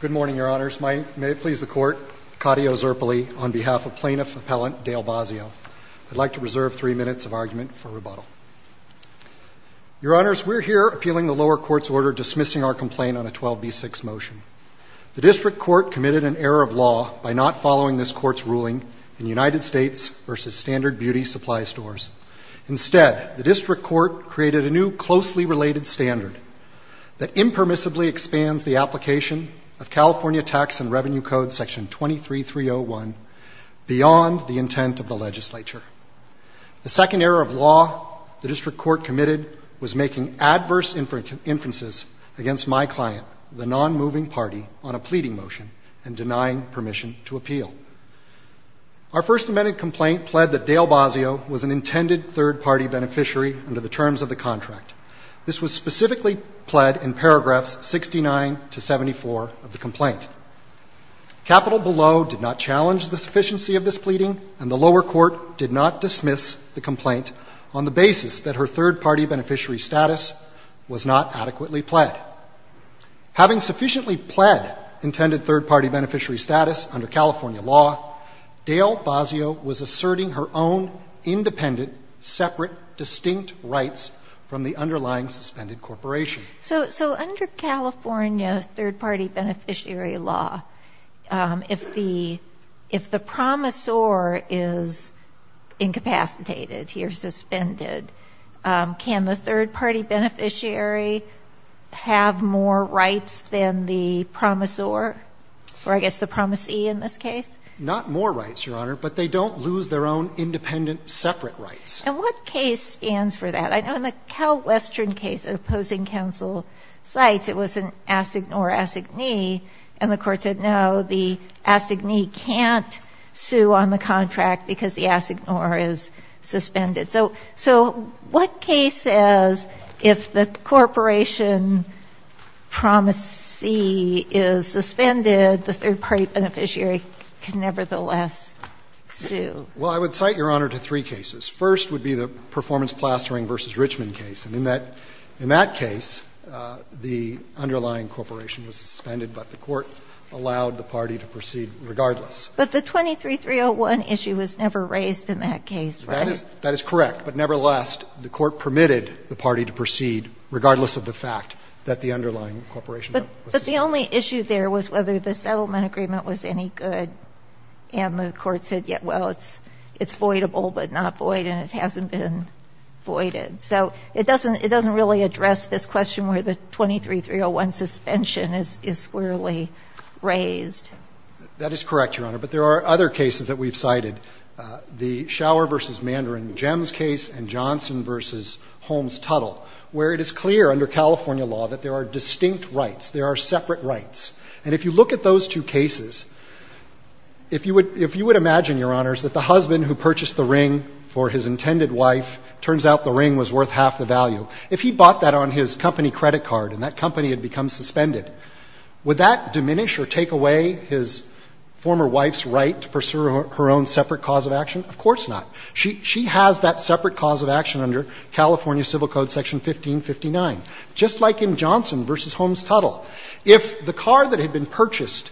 Good morning, Your Honors. May it please the Court, Cotty Ozerpely, on behalf of Plaintiff Appellant Dale Bozzio. I'd like to reserve three minutes of argument for rebuttal. Your Honors, we're here appealing the lower court's order dismissing our complaint on a 12B6 motion. The District Court committed an error of law by not following this court's ruling in United States v. Standard Beauty Supply Stores. Instead, the District Court created a new closely related standard that impermissibly expands the application of California Tax and Revenue Code Section 23301 beyond the intent of the legislature. The second error of law the District Court committed was making adverse inferences against my client, the non-moving party, on a pleading motion and denying permission to appeal. Our First Amendment complaint pled that Dale Bozzio was an intended third-party beneficiary under the terms of the contract. This was specifically pled in paragraphs 69 to 74 of the complaint. Capital Below did not challenge the sufficiency of this pleading, and the lower court did not dismiss the complaint on the basis that her third-party beneficiary status was not adequately pled. Having sufficiently pled intended third-party beneficiary status under California law, Dale Bozzio was asserting her own independent, separate, distinct rights from the underlying suspended corporation. So under California third-party beneficiary law, if the promisor is incapacitated, he or she is suspended, can the third-party beneficiary have more rights than the promisor? Or I guess the promisee in this case? Not more rights, Your Honor, but they don't lose their own independent, separate rights. And what case stands for that? I know in the CalWestern case that opposing counsel cites, it was an assignor-assignee, and the court said, no, the assignee can't sue on the contract because the assignor is suspended. So what case says if the corporation promisee is suspended, the third-party beneficiary can nevertheless sue? Well, I would cite, Your Honor, to three cases. First would be the Performance Plastering v. Richmond case. And in that case, the underlying corporation was suspended, but the court allowed the party to proceed regardless. But the 23-301 issue was never raised in that case, right? That is correct. But nevertheless, the court permitted the party to proceed regardless of the fact that the underlying corporation was suspended. But the only issue there was whether the settlement agreement was any good, and the void, and it hasn't been voided. So it doesn't really address this question where the 23-301 suspension is squarely raised. That is correct, Your Honor. But there are other cases that we've cited, the Shower v. Mandarin Gems case and Johnson v. Holmes Tuttle, where it is clear under California law that there are distinct rights, there are separate rights. And if you look at those two cases, if you would imagine, Your Honors, that the husband who purchased the ring for his intended wife, turns out the ring was worth half the value, if he bought that on his company credit card and that company had become suspended, would that diminish or take away his former wife's right to pursue her own separate cause of action? Of course not. She has that separate cause of action under California Civil Code Section 1559, just like in Johnson v. Holmes Tuttle. If the car that had been purchased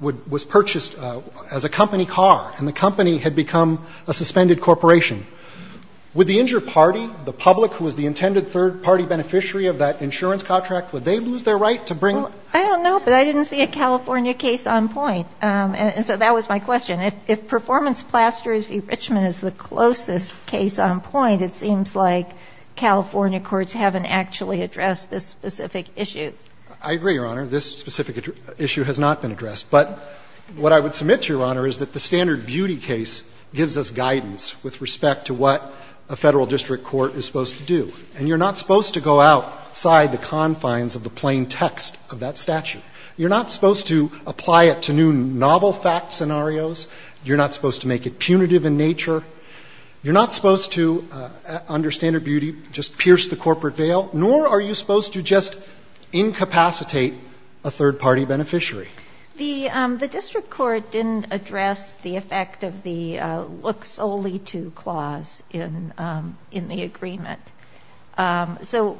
was purchased as a company car and the company had become a suspended corporation, would the injured party, the public who was the intended third-party beneficiary of that insurance contract, would they lose their right to bring? I don't know, but I didn't see a California case on point. And so that was my question. If performance plasters v. Richmond is the closest case on point, it seems like California courts haven't actually addressed this specific issue. I agree, Your Honor. This specific issue has not been addressed. But what I would submit to Your Honor is that the Standard Beauty case gives us guidance with respect to what a Federal district court is supposed to do. And you're not supposed to go outside the confines of the plain text of that statute. You're not supposed to apply it to new novel fact scenarios. You're not supposed to make it punitive in nature. You're not supposed to, under Standard Beauty, just pierce the corporate veil, nor are you supposed to just incapacitate a third-party beneficiary. The district court didn't address the effect of the look solely to clause in the agreement. So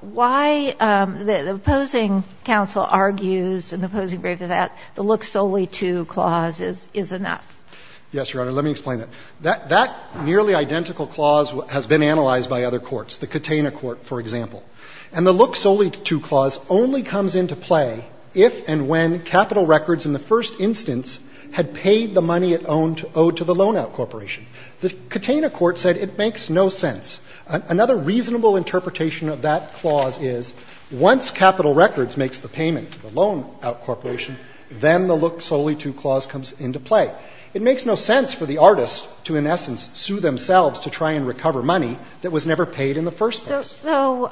why the opposing counsel argues in the opposing brief that the look solely to clause is enough? Yes, Your Honor. Let me explain that. That nearly identical clause has been analyzed by other courts, the Katena court, for example. And the look solely to clause only comes into play if and when Capital Records in the first instance had paid the money it owed to the loan-out corporation. The Katena court said it makes no sense. Another reasonable interpretation of that clause is once Capital Records makes the payment to the loan-out corporation, then the look solely to clause comes into play. It makes no sense for the artist to, in essence, sue themselves to try and recover money that was never paid in the first place. So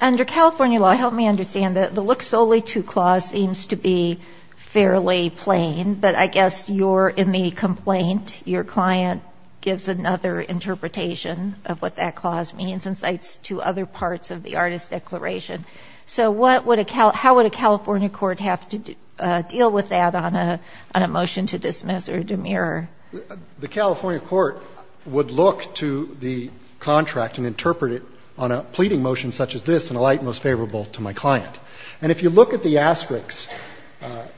under California law, help me understand. The look solely to clause seems to be fairly plain, but I guess you're in the complaint. Your client gives another interpretation of what that clause means and cites two other parts of the artist's declaration. So what would a Cal – how would a California court have to deal with that on a motion to dismiss or demur? The California court would look to the contract and interpret it on a pleading motion such as this in a light most favorable to my client. And if you look at the asterisk,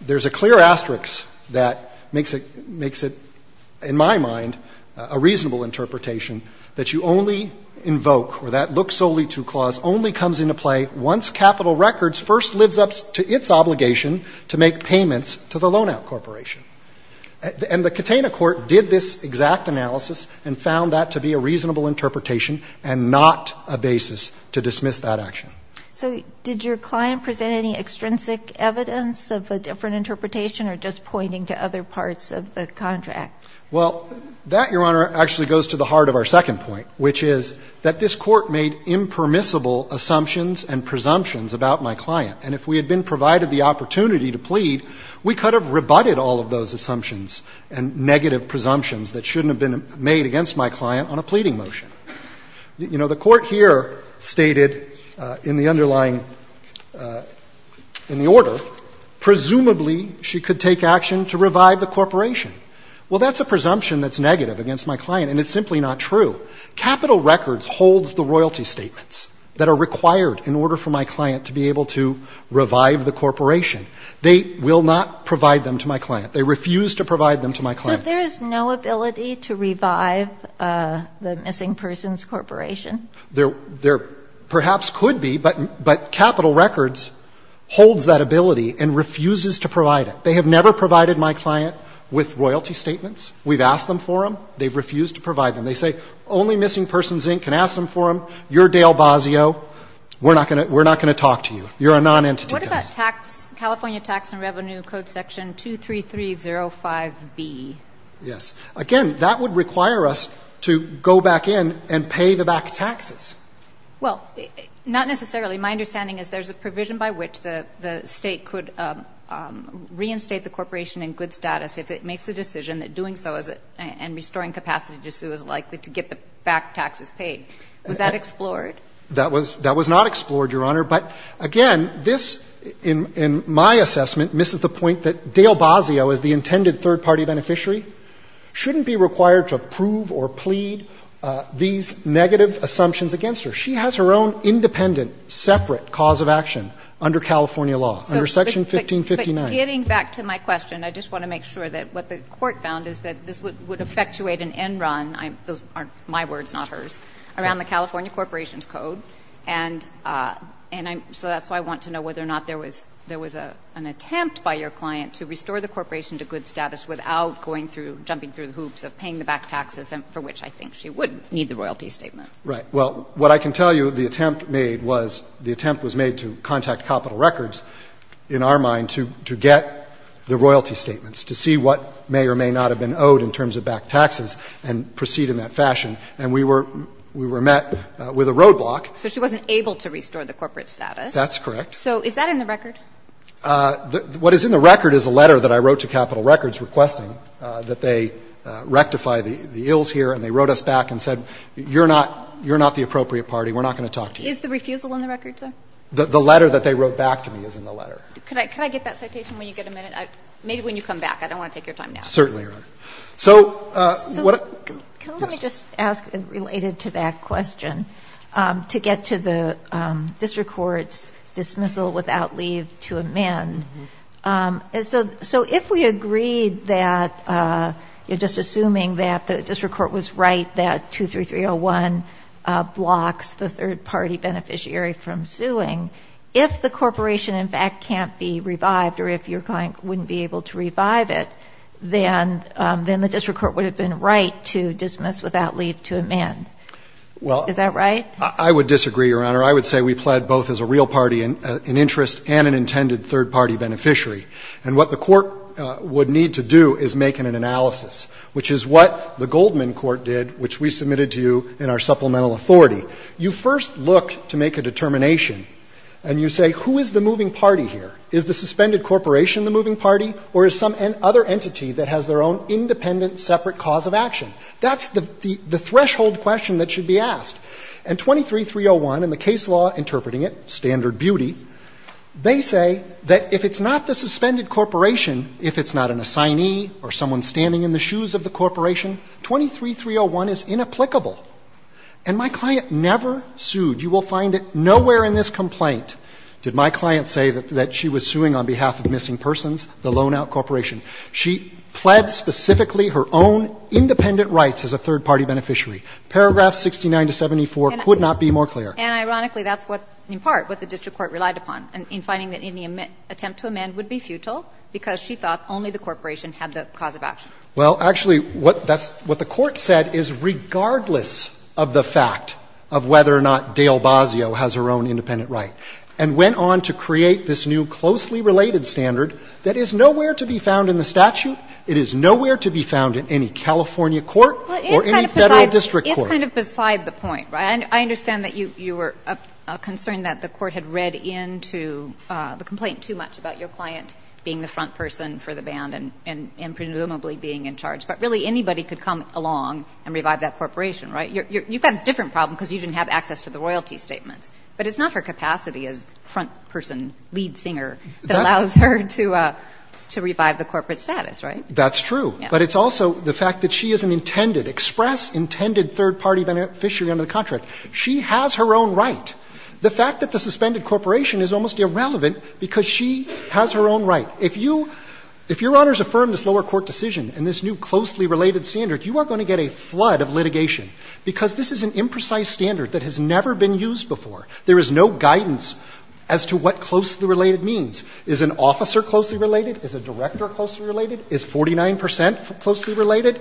there's a clear asterisk that makes it, in my mind, a reasonable interpretation, that you only invoke, or that look solely to clause only comes into play once Capital Records first lives up to its obligation to make payments to the loan-out corporation. And the Katena court did this exact analysis and found that to be a reasonable interpretation and not a basis to dismiss that action. So did your client present any extrinsic evidence of a different interpretation or just pointing to other parts of the contract? Well, that, Your Honor, actually goes to the heart of our second point, which is that this court made impermissible assumptions and presumptions about my client. And if we had been provided the opportunity to plead, we could have rebutted all of those assumptions and negative presumptions that shouldn't have been made against my client on a pleading motion. You know, the Court here stated in the underlying – in the order, presumably she could take action to revive the corporation. Well, that's a presumption that's negative against my client, and it's simply not true. Capital Records holds the royalty statements that are required in order for my client to be able to revive the corporation. They will not provide them to my client. They refuse to provide them to my client. So there is no ability to revive the missing persons corporation? There perhaps could be, but Capital Records holds that ability and refuses to provide it. They have never provided my client with royalty statements. We've asked them for them. They've refused to provide them. They say only Missing Persons, Inc. can ask them for them. You're Dale Bozzio. We're not going to talk to you. You're a nonentity to us. What about California Tax and Revenue Code Section 23305B? Yes. Again, that would require us to go back in and pay the back taxes. Well, not necessarily. My understanding is there's a provision by which the State could reinstate the corporation in good status if it makes the decision that doing so and restoring capacity to sue is likely to get the back taxes paid. Was that explored? That was not explored, Your Honor. But again, this, in my assessment, misses the point that Dale Bozzio, as the intended third-party beneficiary, shouldn't be required to approve or plead these negative assumptions against her. She has her own independent, separate cause of action under California law, under Section 1559. But getting back to my question, I just want to make sure that what the Court found is that this would effectuate an end run, those aren't my words, not hers, around the California Corporations Code. And so that's why I want to know whether or not there was an attempt by your client to restore the corporation to good status without going through, jumping through the hoops of paying the back taxes, for which I think she would need the royalty statement. Right. Well, what I can tell you, the attempt made was, the attempt was made to contact Capital Records, in our mind, to get the royalty statements, to see what may or may not have been owed in terms of back taxes and proceed in that fashion. And we were met with a roadblock. So she wasn't able to restore the corporate status. That's correct. So is that in the record? What is in the record is a letter that I wrote to Capital Records requesting that they rectify the ills here, and they wrote us back and said, you're not the appropriate party, we're not going to talk to you. Is the refusal in the record, sir? The letter that they wrote back to me is in the letter. Could I get that citation when you get a minute? Maybe when you come back. I don't want to take your time now. Certainly, Your Honor. So what the – yes. So can I just ask, related to that question, to get to the district court's dismissal without leave to amend. So if we agreed that, just assuming that the district court was right that 23301 blocks the third-party beneficiary from suing, if the corporation in fact can't be revived or if your client wouldn't be able to revive it, then the district court would have been right to dismiss without leave to amend. Is that right? Well, I would disagree, Your Honor. I would say we pled both as a real party in interest and an intended third-party beneficiary. And what the court would need to do is make an analysis, which is what the Goldman Corp. did, which we submitted to you in our supplemental authority. You first look to make a determination and you say, who is the moving party here? Is the suspended corporation the moving party or is some other entity that has their own independent separate cause of action? That's the threshold question that should be asked. And 23301, in the case law interpreting it, standard beauty, they say that if it's not the suspended corporation, if it's not an assignee or someone standing in the way, then 23301 is inapplicable. And my client never sued. You will find nowhere in this complaint did my client say that she was suing on behalf of missing persons, the loan-out corporation. She pled specifically her own independent rights as a third-party beneficiary. Paragraphs 69 to 74 could not be more clear. And ironically, that's what, in part, what the district court relied upon in finding that any attempt to amend would be futile because she thought only the corporation had the cause of action. Well, actually, what that's – what the Court said is regardless of the fact of whether or not Dale Basio has her own independent right, and went on to create this new closely related standard that is nowhere to be found in the statute, it is nowhere to be found in any California court or any Federal district court. It's kind of beside the point, right? I understand that you were concerned that the Court had read into the complaint too much about your client being the front person for the band and presumably being in charge, but really anybody could come along and revive that corporation, right? You've got a different problem because you didn't have access to the royalty statements, but it's not her capacity as front-person lead singer that allows her to revive the corporate status, right? That's true. But it's also the fact that she is an intended, express intended third-party beneficiary under the contract. She has her own right. The fact that the suspended corporation is almost irrelevant because she has her own right. If you – if Your Honors affirm this lower court decision and this new closely related standard, you are going to get a flood of litigation because this is an imprecise standard that has never been used before. There is no guidance as to what closely related means. Is an officer closely related? Is a director closely related? Is 49 percent closely related?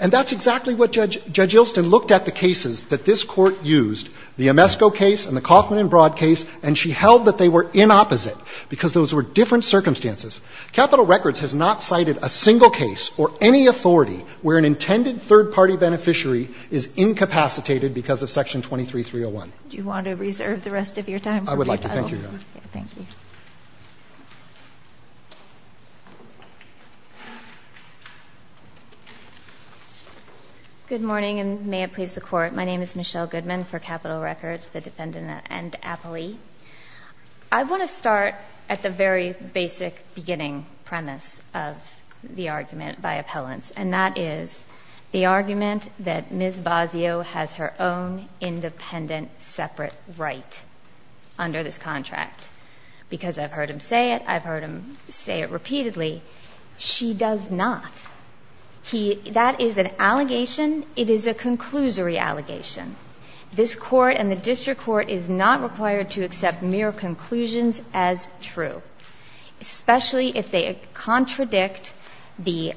And that's exactly what Judge – Judge Ilston looked at the cases that this Court used, the Amesco case and the Kaufman and Broad case, and she held that they were inopposite because those were different circumstances. Capitol Records has not cited a single case or any authority where an intended third-party beneficiary is incapacitated because of Section 23301. Do you want to reserve the rest of your time? I would like to. Thank you, Your Honor. Thank you. Good morning, and may it please the Court. My name is Michelle Goodman for Capitol Records, the defendant and appellee. I want to start at the very basic beginning premise of the argument by appellants, and that is the argument that Ms. Bazzio has her own independent separate right under this contract. Because I've heard him say it, I've heard him say it repeatedly. She does not. He – that is an allegation. It is a conclusory allegation. This Court and the district court is not required to accept mere conclusions as true, especially if they contradict the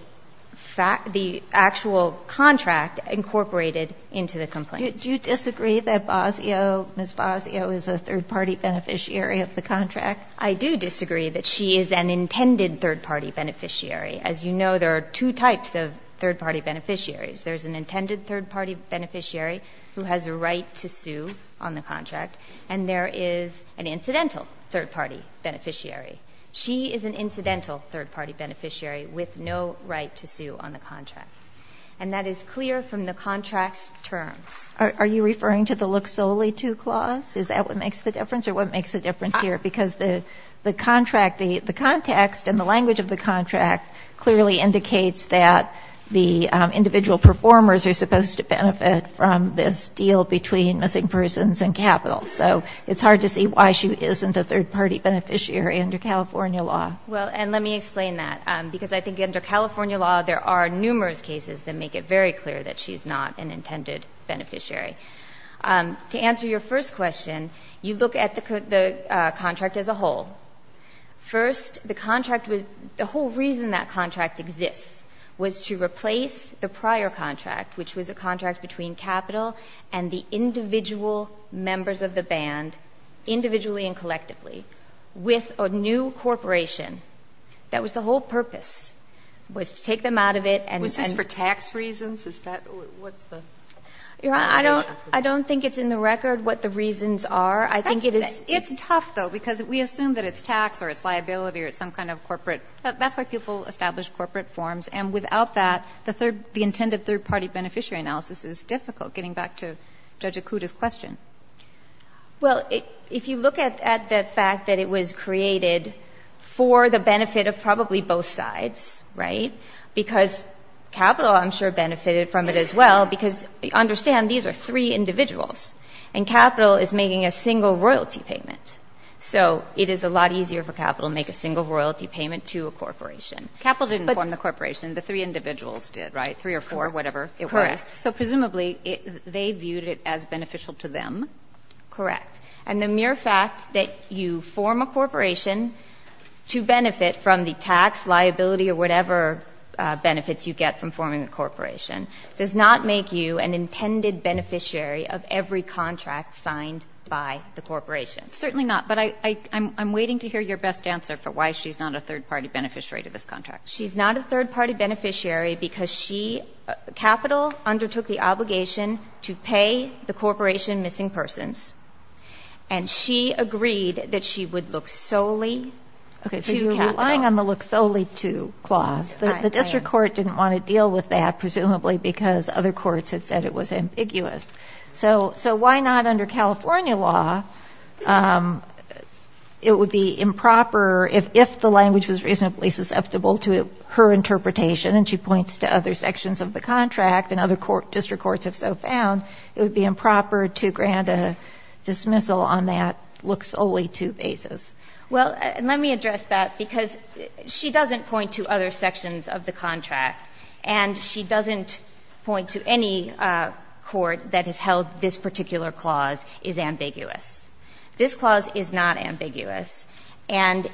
fact – the actual contract incorporated into the complaint. Do you disagree that Bazzio, Ms. Bazzio, is a third-party beneficiary of the contract? I do disagree that she is an intended third-party beneficiary. As you know, there are two types of third-party beneficiaries. There is an intended third-party beneficiary who has a right to sue on the contract, and there is an incidental third-party beneficiary. She is an incidental third-party beneficiary with no right to sue on the contract. And that is clear from the contract's terms. Are you referring to the look solely to clause? Is that what makes the difference, or what makes the difference here? Because the contract, the context and the language of the contract clearly indicates that the individual performers are supposed to benefit from this deal between missing persons and capital. So it's hard to see why she isn't a third-party beneficiary under California law. Well, and let me explain that, because I think under California law there are numerous cases that make it very clear that she is not an intended beneficiary. To answer your first question, you look at the contract as a whole. First, the contract was the whole reason that contract exists, was to replace the prior contract, which was a contract between capital and the individual members of the band, individually and collectively, with a new corporation. That was the whole purpose, was to take them out of it and then ---- Was this for tax reasons? Is that what's the ---- Your Honor, I don't think it's in the record what the reasons are. I think it is ---- It's tough, though, because we assume that it's tax or it's liability or it's some kind of corporate. That's why people establish corporate forms. And without that, the intended third-party beneficiary analysis is difficult, getting back to Judge Akuta's question. Well, if you look at the fact that it was created for the benefit of probably both sides, right, because capital, I'm sure, benefited from it as well, because understand these are three individuals, and capital is making a single royalty payment. So it is a lot easier for capital to make a single royalty payment to a corporation. But ---- Capital didn't form the corporation. The three individuals did, right? Three or four, whatever it was. Correct. So presumably, they viewed it as beneficial to them. Correct. And the mere fact that you form a corporation to benefit from the tax, liability or whatever benefits you get from forming a corporation does not make you an intended beneficiary of every contract signed by the corporation. Certainly not. But I'm waiting to hear your best answer for why she's not a third-party beneficiary to this contract. She's not a third-party beneficiary because she ---- Capital undertook the obligation to pay the corporation missing persons, and she agreed that she would look solely to capital. Okay. So you're relying on the look solely to clause. The district court didn't want to deal with that, presumably because other courts had said it was ambiguous. So why not under California law, it would be improper if the language was reasonably susceptible to her interpretation, and she points to other sections of the contract, and other district courts have so found, it would be improper to grant a dismissal on that look solely to basis. Well, let me address that, because she doesn't point to other sections of the contract, and she doesn't point to any court that has held this particular clause is ambiguous. This clause is not ambiguous. And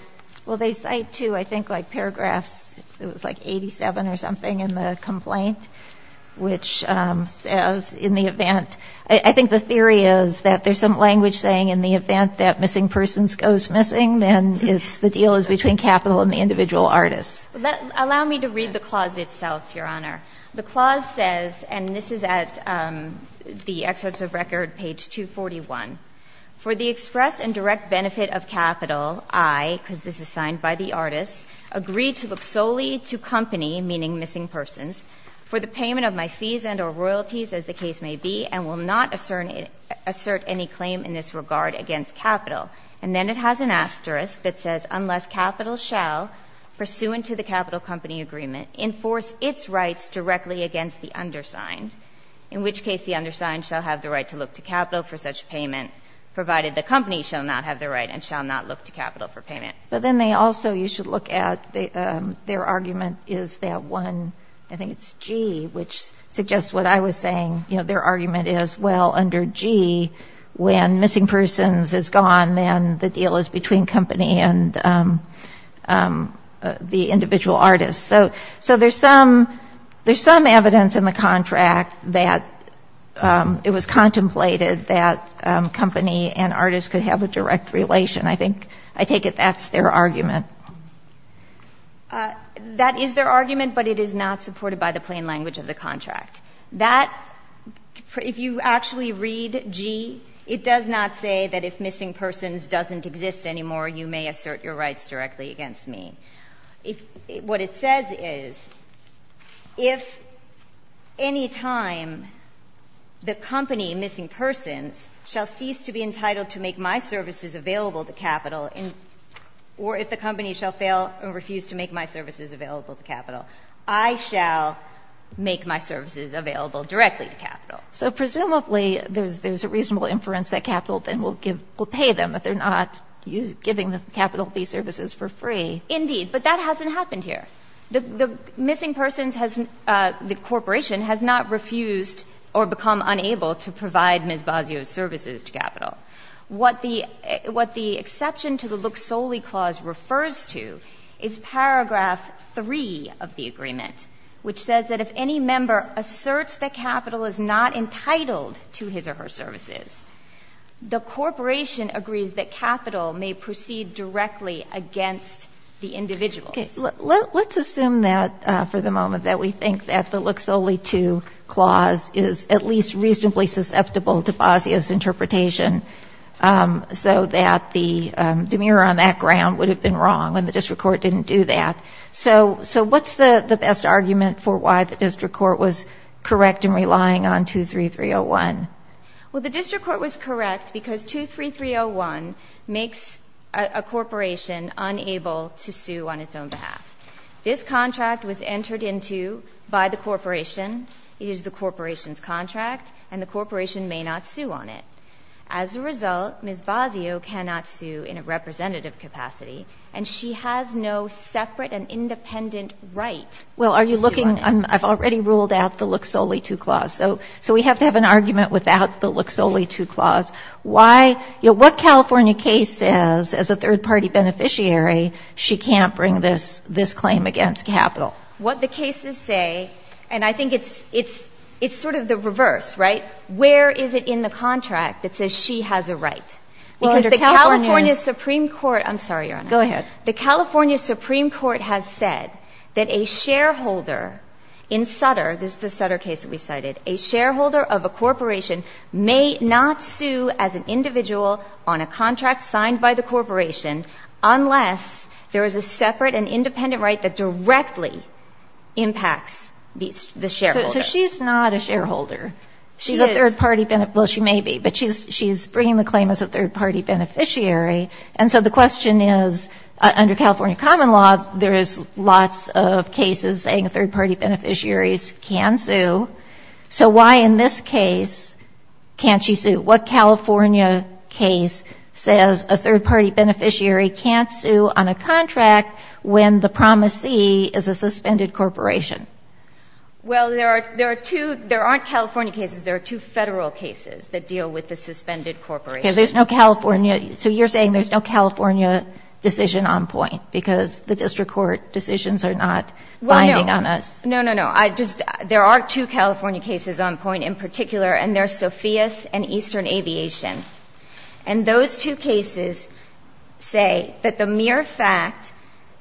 well, they cite to, I think, like paragraphs, it was like 87 or something in the complaint, which says in the event ---- I think the theory is that there's some language saying in the event that missing persons goes missing, then it's the deal is between capital and the individual artist. Allow me to read the clause itself, Your Honor. The clause says, and this is at the excerpts of record, page 241. For the express and direct benefit of capital, I, because this is signed by the artist, agree to look solely to company, meaning missing persons, for the payment of my fees and or royalties, as the case may be, and will not assert any claim in this regard against capital. And then it has an asterisk that says, unless capital shall, pursuant to the capital company agreement, enforce its rights directly against the undersigned, in which case the undersigned shall have the right to look to capital for such payment, provided the company shall not have the right and shall not look to capital for payment. But then they also, you should look at, their argument is that one, I think it's G, which suggests what I was saying, their argument is, well, under G, when missing persons is gone, then the deal is between company and the individual artist. So there's some, there's some evidence in the contract that it was contemplated that company and artist could have a direct relation. I think, I take it that's their argument. That is their argument, but it is not supported by the plain language of the contract. That, if you actually read G, it does not say that if missing persons doesn't exist anymore, you may assert your rights directly against me. If, what it says is, if any time the company, missing persons, shall cease to be entitled to make my services available to capital, or if the company shall fail or refuse to make my services available to capital, I shall make my services available directly to capital. So presumably, there's a reasonable inference that capital then will give, will pay them, but they're not giving the capital these services for free. Indeed, but that hasn't happened here. The missing persons has, the corporation has not refused or become unable to provide Ms. Basio's services to capital. What the exception to the Look-Solely Clause refers to is paragraph 3 of the agreement, which says that if any member asserts that capital is not entitled to his or her services, the corporation agrees that capital may proceed directly against the individuals. Okay. Let's assume that, for the moment, that we think that the Look-Solely 2 Clause is at fault, so that the mirror on that ground would have been wrong and the district court didn't do that. So what's the best argument for why the district court was correct in relying on 23301? Well, the district court was correct because 23301 makes a corporation unable to sue on its own behalf. This contract was entered into by the corporation. It is the corporation's contract, and the corporation may not sue on it. As a result, Ms. Basio cannot sue in a representative capacity, and she has no separate and independent right to sue on it. Well, are you looking? I've already ruled out the Look-Solely 2 Clause. So we have to have an argument without the Look-Solely 2 Clause. Why? What California case says, as a third-party beneficiary, she can't bring this claim against capital? What the cases say, and I think it's sort of the reverse, right? Where is it in the contract that says she has a right? Because the California Supreme Court – I'm sorry, Your Honor. Go ahead. The California Supreme Court has said that a shareholder in Sutter – this is the Sutter case that we cited – a shareholder of a corporation may not sue as an individual on a contract signed by the corporation unless there is a separate and independent right that directly impacts the shareholder. So she's not a shareholder. She is. She's a third-party – well, she may be, but she's bringing the claim as a third-party beneficiary. And so the question is, under California common law, there is lots of cases saying third-party beneficiaries can sue. So why in this case can't she sue? What California case says a third-party beneficiary can't sue on a contract when the promisee is a suspended corporation? Well, there are two – there aren't California cases. There are two Federal cases that deal with the suspended corporation. Okay. There's no California – so you're saying there's no California decision on point because the district court decisions are not binding on us? Well, no. No, no, no. I just – there are two California cases on point in particular, and they're Sophia's and Eastern Aviation. And those two cases say that the mere fact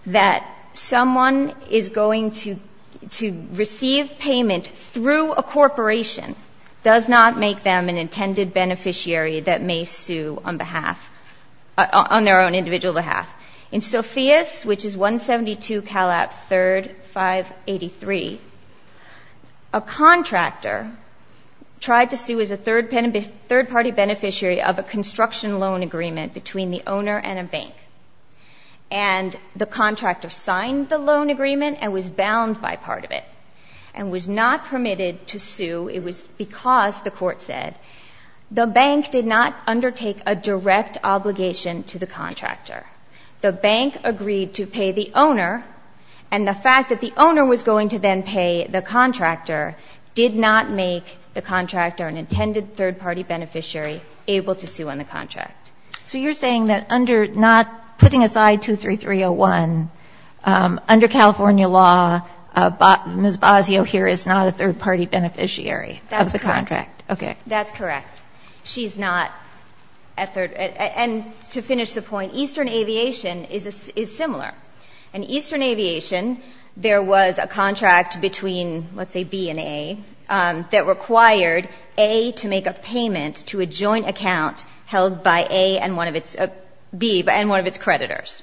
that someone is going to – to receive payment through a corporation does not make them an intended beneficiary that may sue on behalf – on their own individual behalf. In Sophia's, which is 172 CALAP 3rd 583, a contractor tried to sue as a third-party beneficiary of a construction loan agreement between the owner and a bank. And the contractor signed the loan agreement and was bound by part of it and was not permitted to sue. It was because, the court said, the bank did not undertake a direct obligation to the contractor. The bank agreed to pay the owner, and the fact that the owner was going to then pay the contractor did not make the contractor an intended third-party beneficiary able to sue on the contract. So you're saying that under – not – putting aside 23301, under California law, Ms. Basio here is not a third-party beneficiary of the contract. That's correct. Okay. That's correct. She's not a third – and to finish the point, Eastern Aviation is similar. In Eastern Aviation, there was a contract between, let's say, B and A, that required A to make a payment to a joint account held by A and one of its – B and one of its creditors.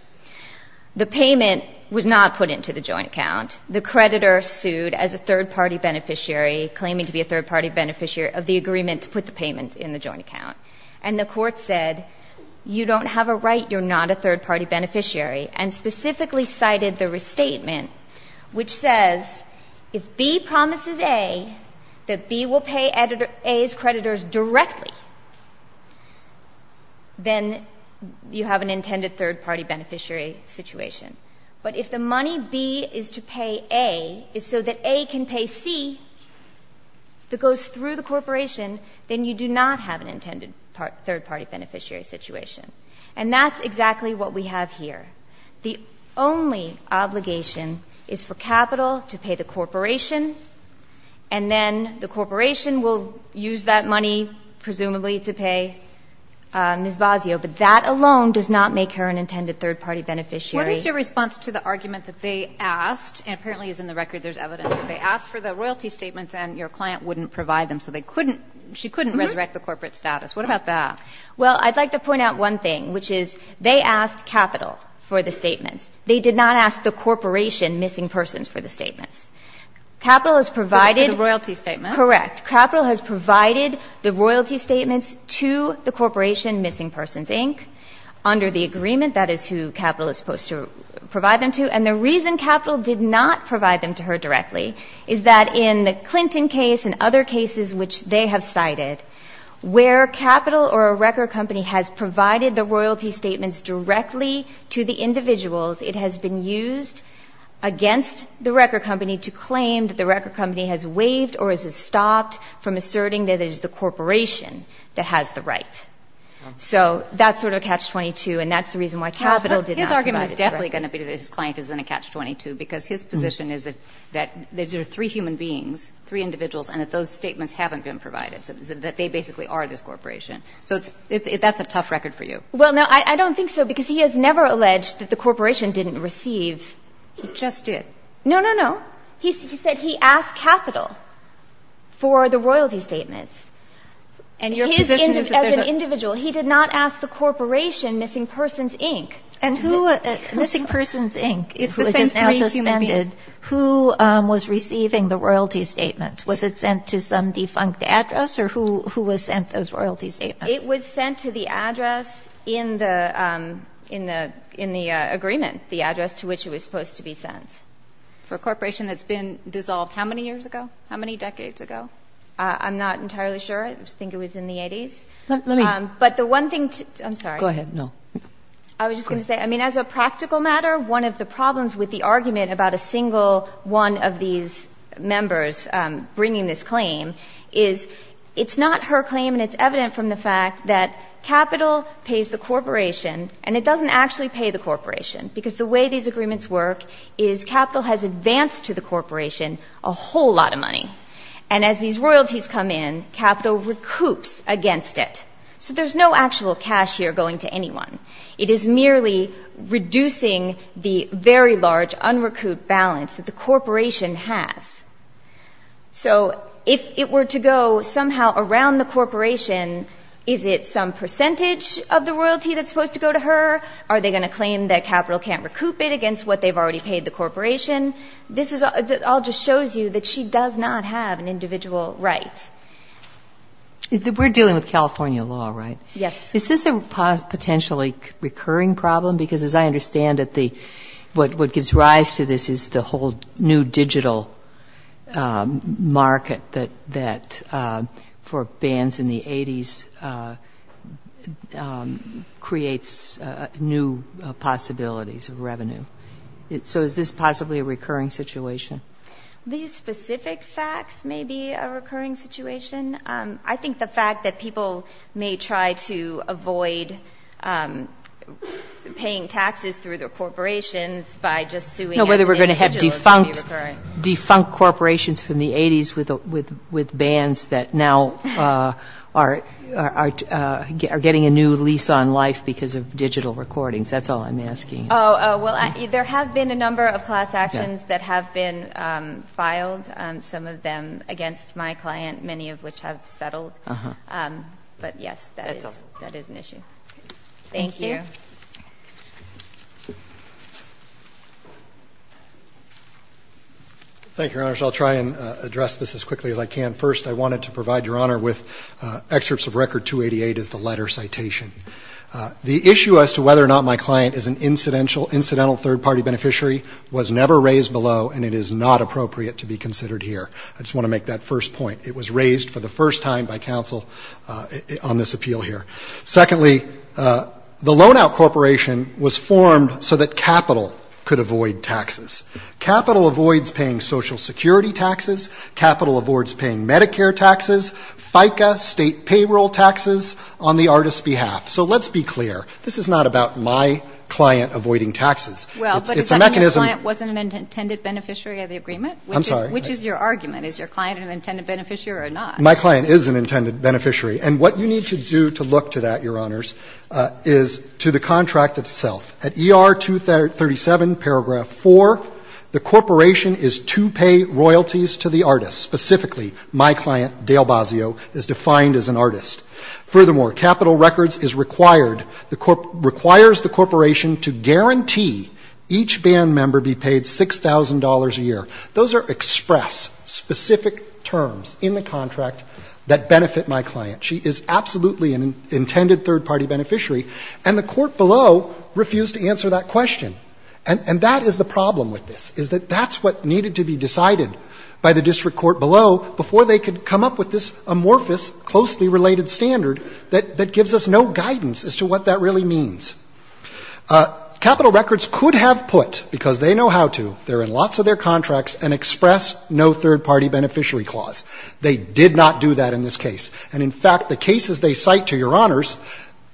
The payment was not put into the joint account. The creditor sued as a third-party beneficiary, claiming to be a third-party beneficiary of the agreement to put the payment in the joint account. And the court said, you don't have a right, you're not a third-party beneficiary. And specifically cited the restatement, which says if B promises A that B will pay A's creditors directly, then you have an intended third-party beneficiary situation. But if the money B is to pay A is so that A can pay C that goes through the corporation, then you do not have an intended third-party beneficiary situation. And that's exactly what we have here. The only obligation is for capital to pay the corporation, and then the corporation will use that money presumably to pay Ms. Basio. But that alone does not make her an intended third-party beneficiary. Kagan. What is your response to the argument that they asked, and apparently as in the record there's evidence that they asked for the royalty statements and your client wouldn't provide them, so they couldn't – she couldn't resurrect the corporate status? What about that? Well, I'd like to point out one thing, which is they asked capital for the statements. They did not ask the corporation, Missing Persons, for the statements. Capital has provided – For the royalty statements? Correct. Capital has provided the royalty statements to the corporation, Missing Persons, Inc. under the agreement. That is who capital is supposed to provide them to. And the reason capital did not provide them to her directly is that in the Clinton case and other cases which they have cited, where capital or a record company has provided the royalty statements directly to the individuals, it has been used against the record company to claim that the record company has waived or has stopped from asserting that it is the corporation that has the right. So that's sort of catch-22, and that's the reason why capital did not provide it directly. His argument is definitely going to be that his client is in a catch-22 because his position is that there are three human beings, three individuals, and that those statements haven't been provided, that they basically are this corporation. So it's – that's a tough record for you. Well, no, I don't think so, because he has never alleged that the corporation didn't receive. He just did. No, no, no. He said he asked capital for the royalty statements. And your position is that there's a – His – as an individual. He did not ask the corporation, Missing Persons, Inc. And who – Missing Persons, Inc. It's the same three human beings. It was just now suspended. Who was receiving the royalty statements? Was it sent to some defunct address, or who – who was sent those royalty statements? It was sent to the address in the – in the – in the agreement, the address to which it was supposed to be sent. For a corporation that's been dissolved how many years ago? How many decades ago? I'm not entirely sure. I think it was in the 80s. Let me – But the one thing – I'm sorry. Go ahead. No. I was just going to say, I mean, as a practical matter, one of the problems with the argument about a single one of these members bringing this claim is it's not her claim, and it's evident from the fact that capital pays the corporation, and it doesn't actually pay the corporation. Because the way these agreements work is capital has advanced to the corporation a whole lot of money. And as these royalties come in, capital recoups against it. So there's no actual cash here going to anyone. It is merely reducing the very large unrecouped balance that the corporation has. So if it were to go somehow around the corporation, is it some percentage of the royalty that's supposed to go to her? Are they going to claim that capital can't recoup it against what they've already paid the corporation? This is – it all just shows you that she does not have an individual right. We're dealing with California law, right? Yes. Is this a potentially recurring problem? Because as I understand it, what gives rise to this is the whole new digital market that for bands in the 80s creates new possibilities of revenue. So is this possibly a recurring situation? These specific facts may be a recurring situation. I think the fact that people may try to avoid paying taxes through their corporations by just suing them. No, whether we're going to have defunct corporations from the 80s with bands that now are getting a new lease on life because of digital recordings. That's all I'm asking. Oh, well, there have been a number of class actions that have been filed, some of them against my client, many of which have settled. But, yes, that is an issue. Thank you. Thank you. Thank you, Your Honors. I'll try and address this as quickly as I can. First, I wanted to provide Your Honor with excerpts of Record 288 as the letter citation. The issue as to whether or not my client is an incidental third-party beneficiary was never raised below, and it is not appropriate to be considered here. I just want to make that first point. It was raised for the first time by counsel on this appeal here. Secondly, the loan-out corporation was formed so that capital could avoid taxes. Capital avoids paying Social Security taxes. Capital avoids paying Medicare taxes, FICA state payroll taxes on the artist's behalf. So let's be clear. This is not about my client avoiding taxes. It's a mechanism. Well, but is that when the client wasn't an intended beneficiary of the agreement? I'm sorry? Which is your argument? Is your client an intended beneficiary or not? My client is an intended beneficiary. And what you need to do to look to that, Your Honors, is to the contract itself. At ER 237, paragraph 4, the corporation is to pay royalties to the artist. Specifically, my client, Dale Bazio, is defined as an artist. Furthermore, capital records is required, requires the corporation to guarantee each band member be paid $6,000 a year. Those are express, specific terms in the contract that benefit my client. She is absolutely an intended third-party beneficiary. And the court below refused to answer that question. And that is the problem with this, is that that's what needed to be decided by the standard that gives us no guidance as to what that really means. Capital records could have put, because they know how to, they're in lots of their contracts, an express no third-party beneficiary clause. They did not do that in this case. And, in fact, the cases they cite to Your Honors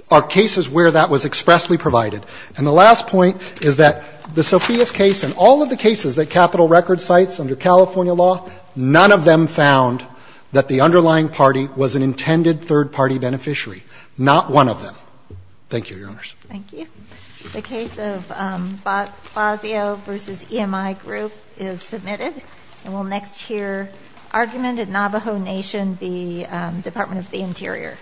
are cases where that was expressly provided. And the last point is that the Sophia's case and all of the cases that capital records cites under California law, none of them found that the underlying party was an intended third-party beneficiary. Not one of them. Thank you, Your Honors. Thank you. The case of Bazio v. EMI Group is submitted. And we'll next hear argument at Navajo Nation v. Department of the Interior.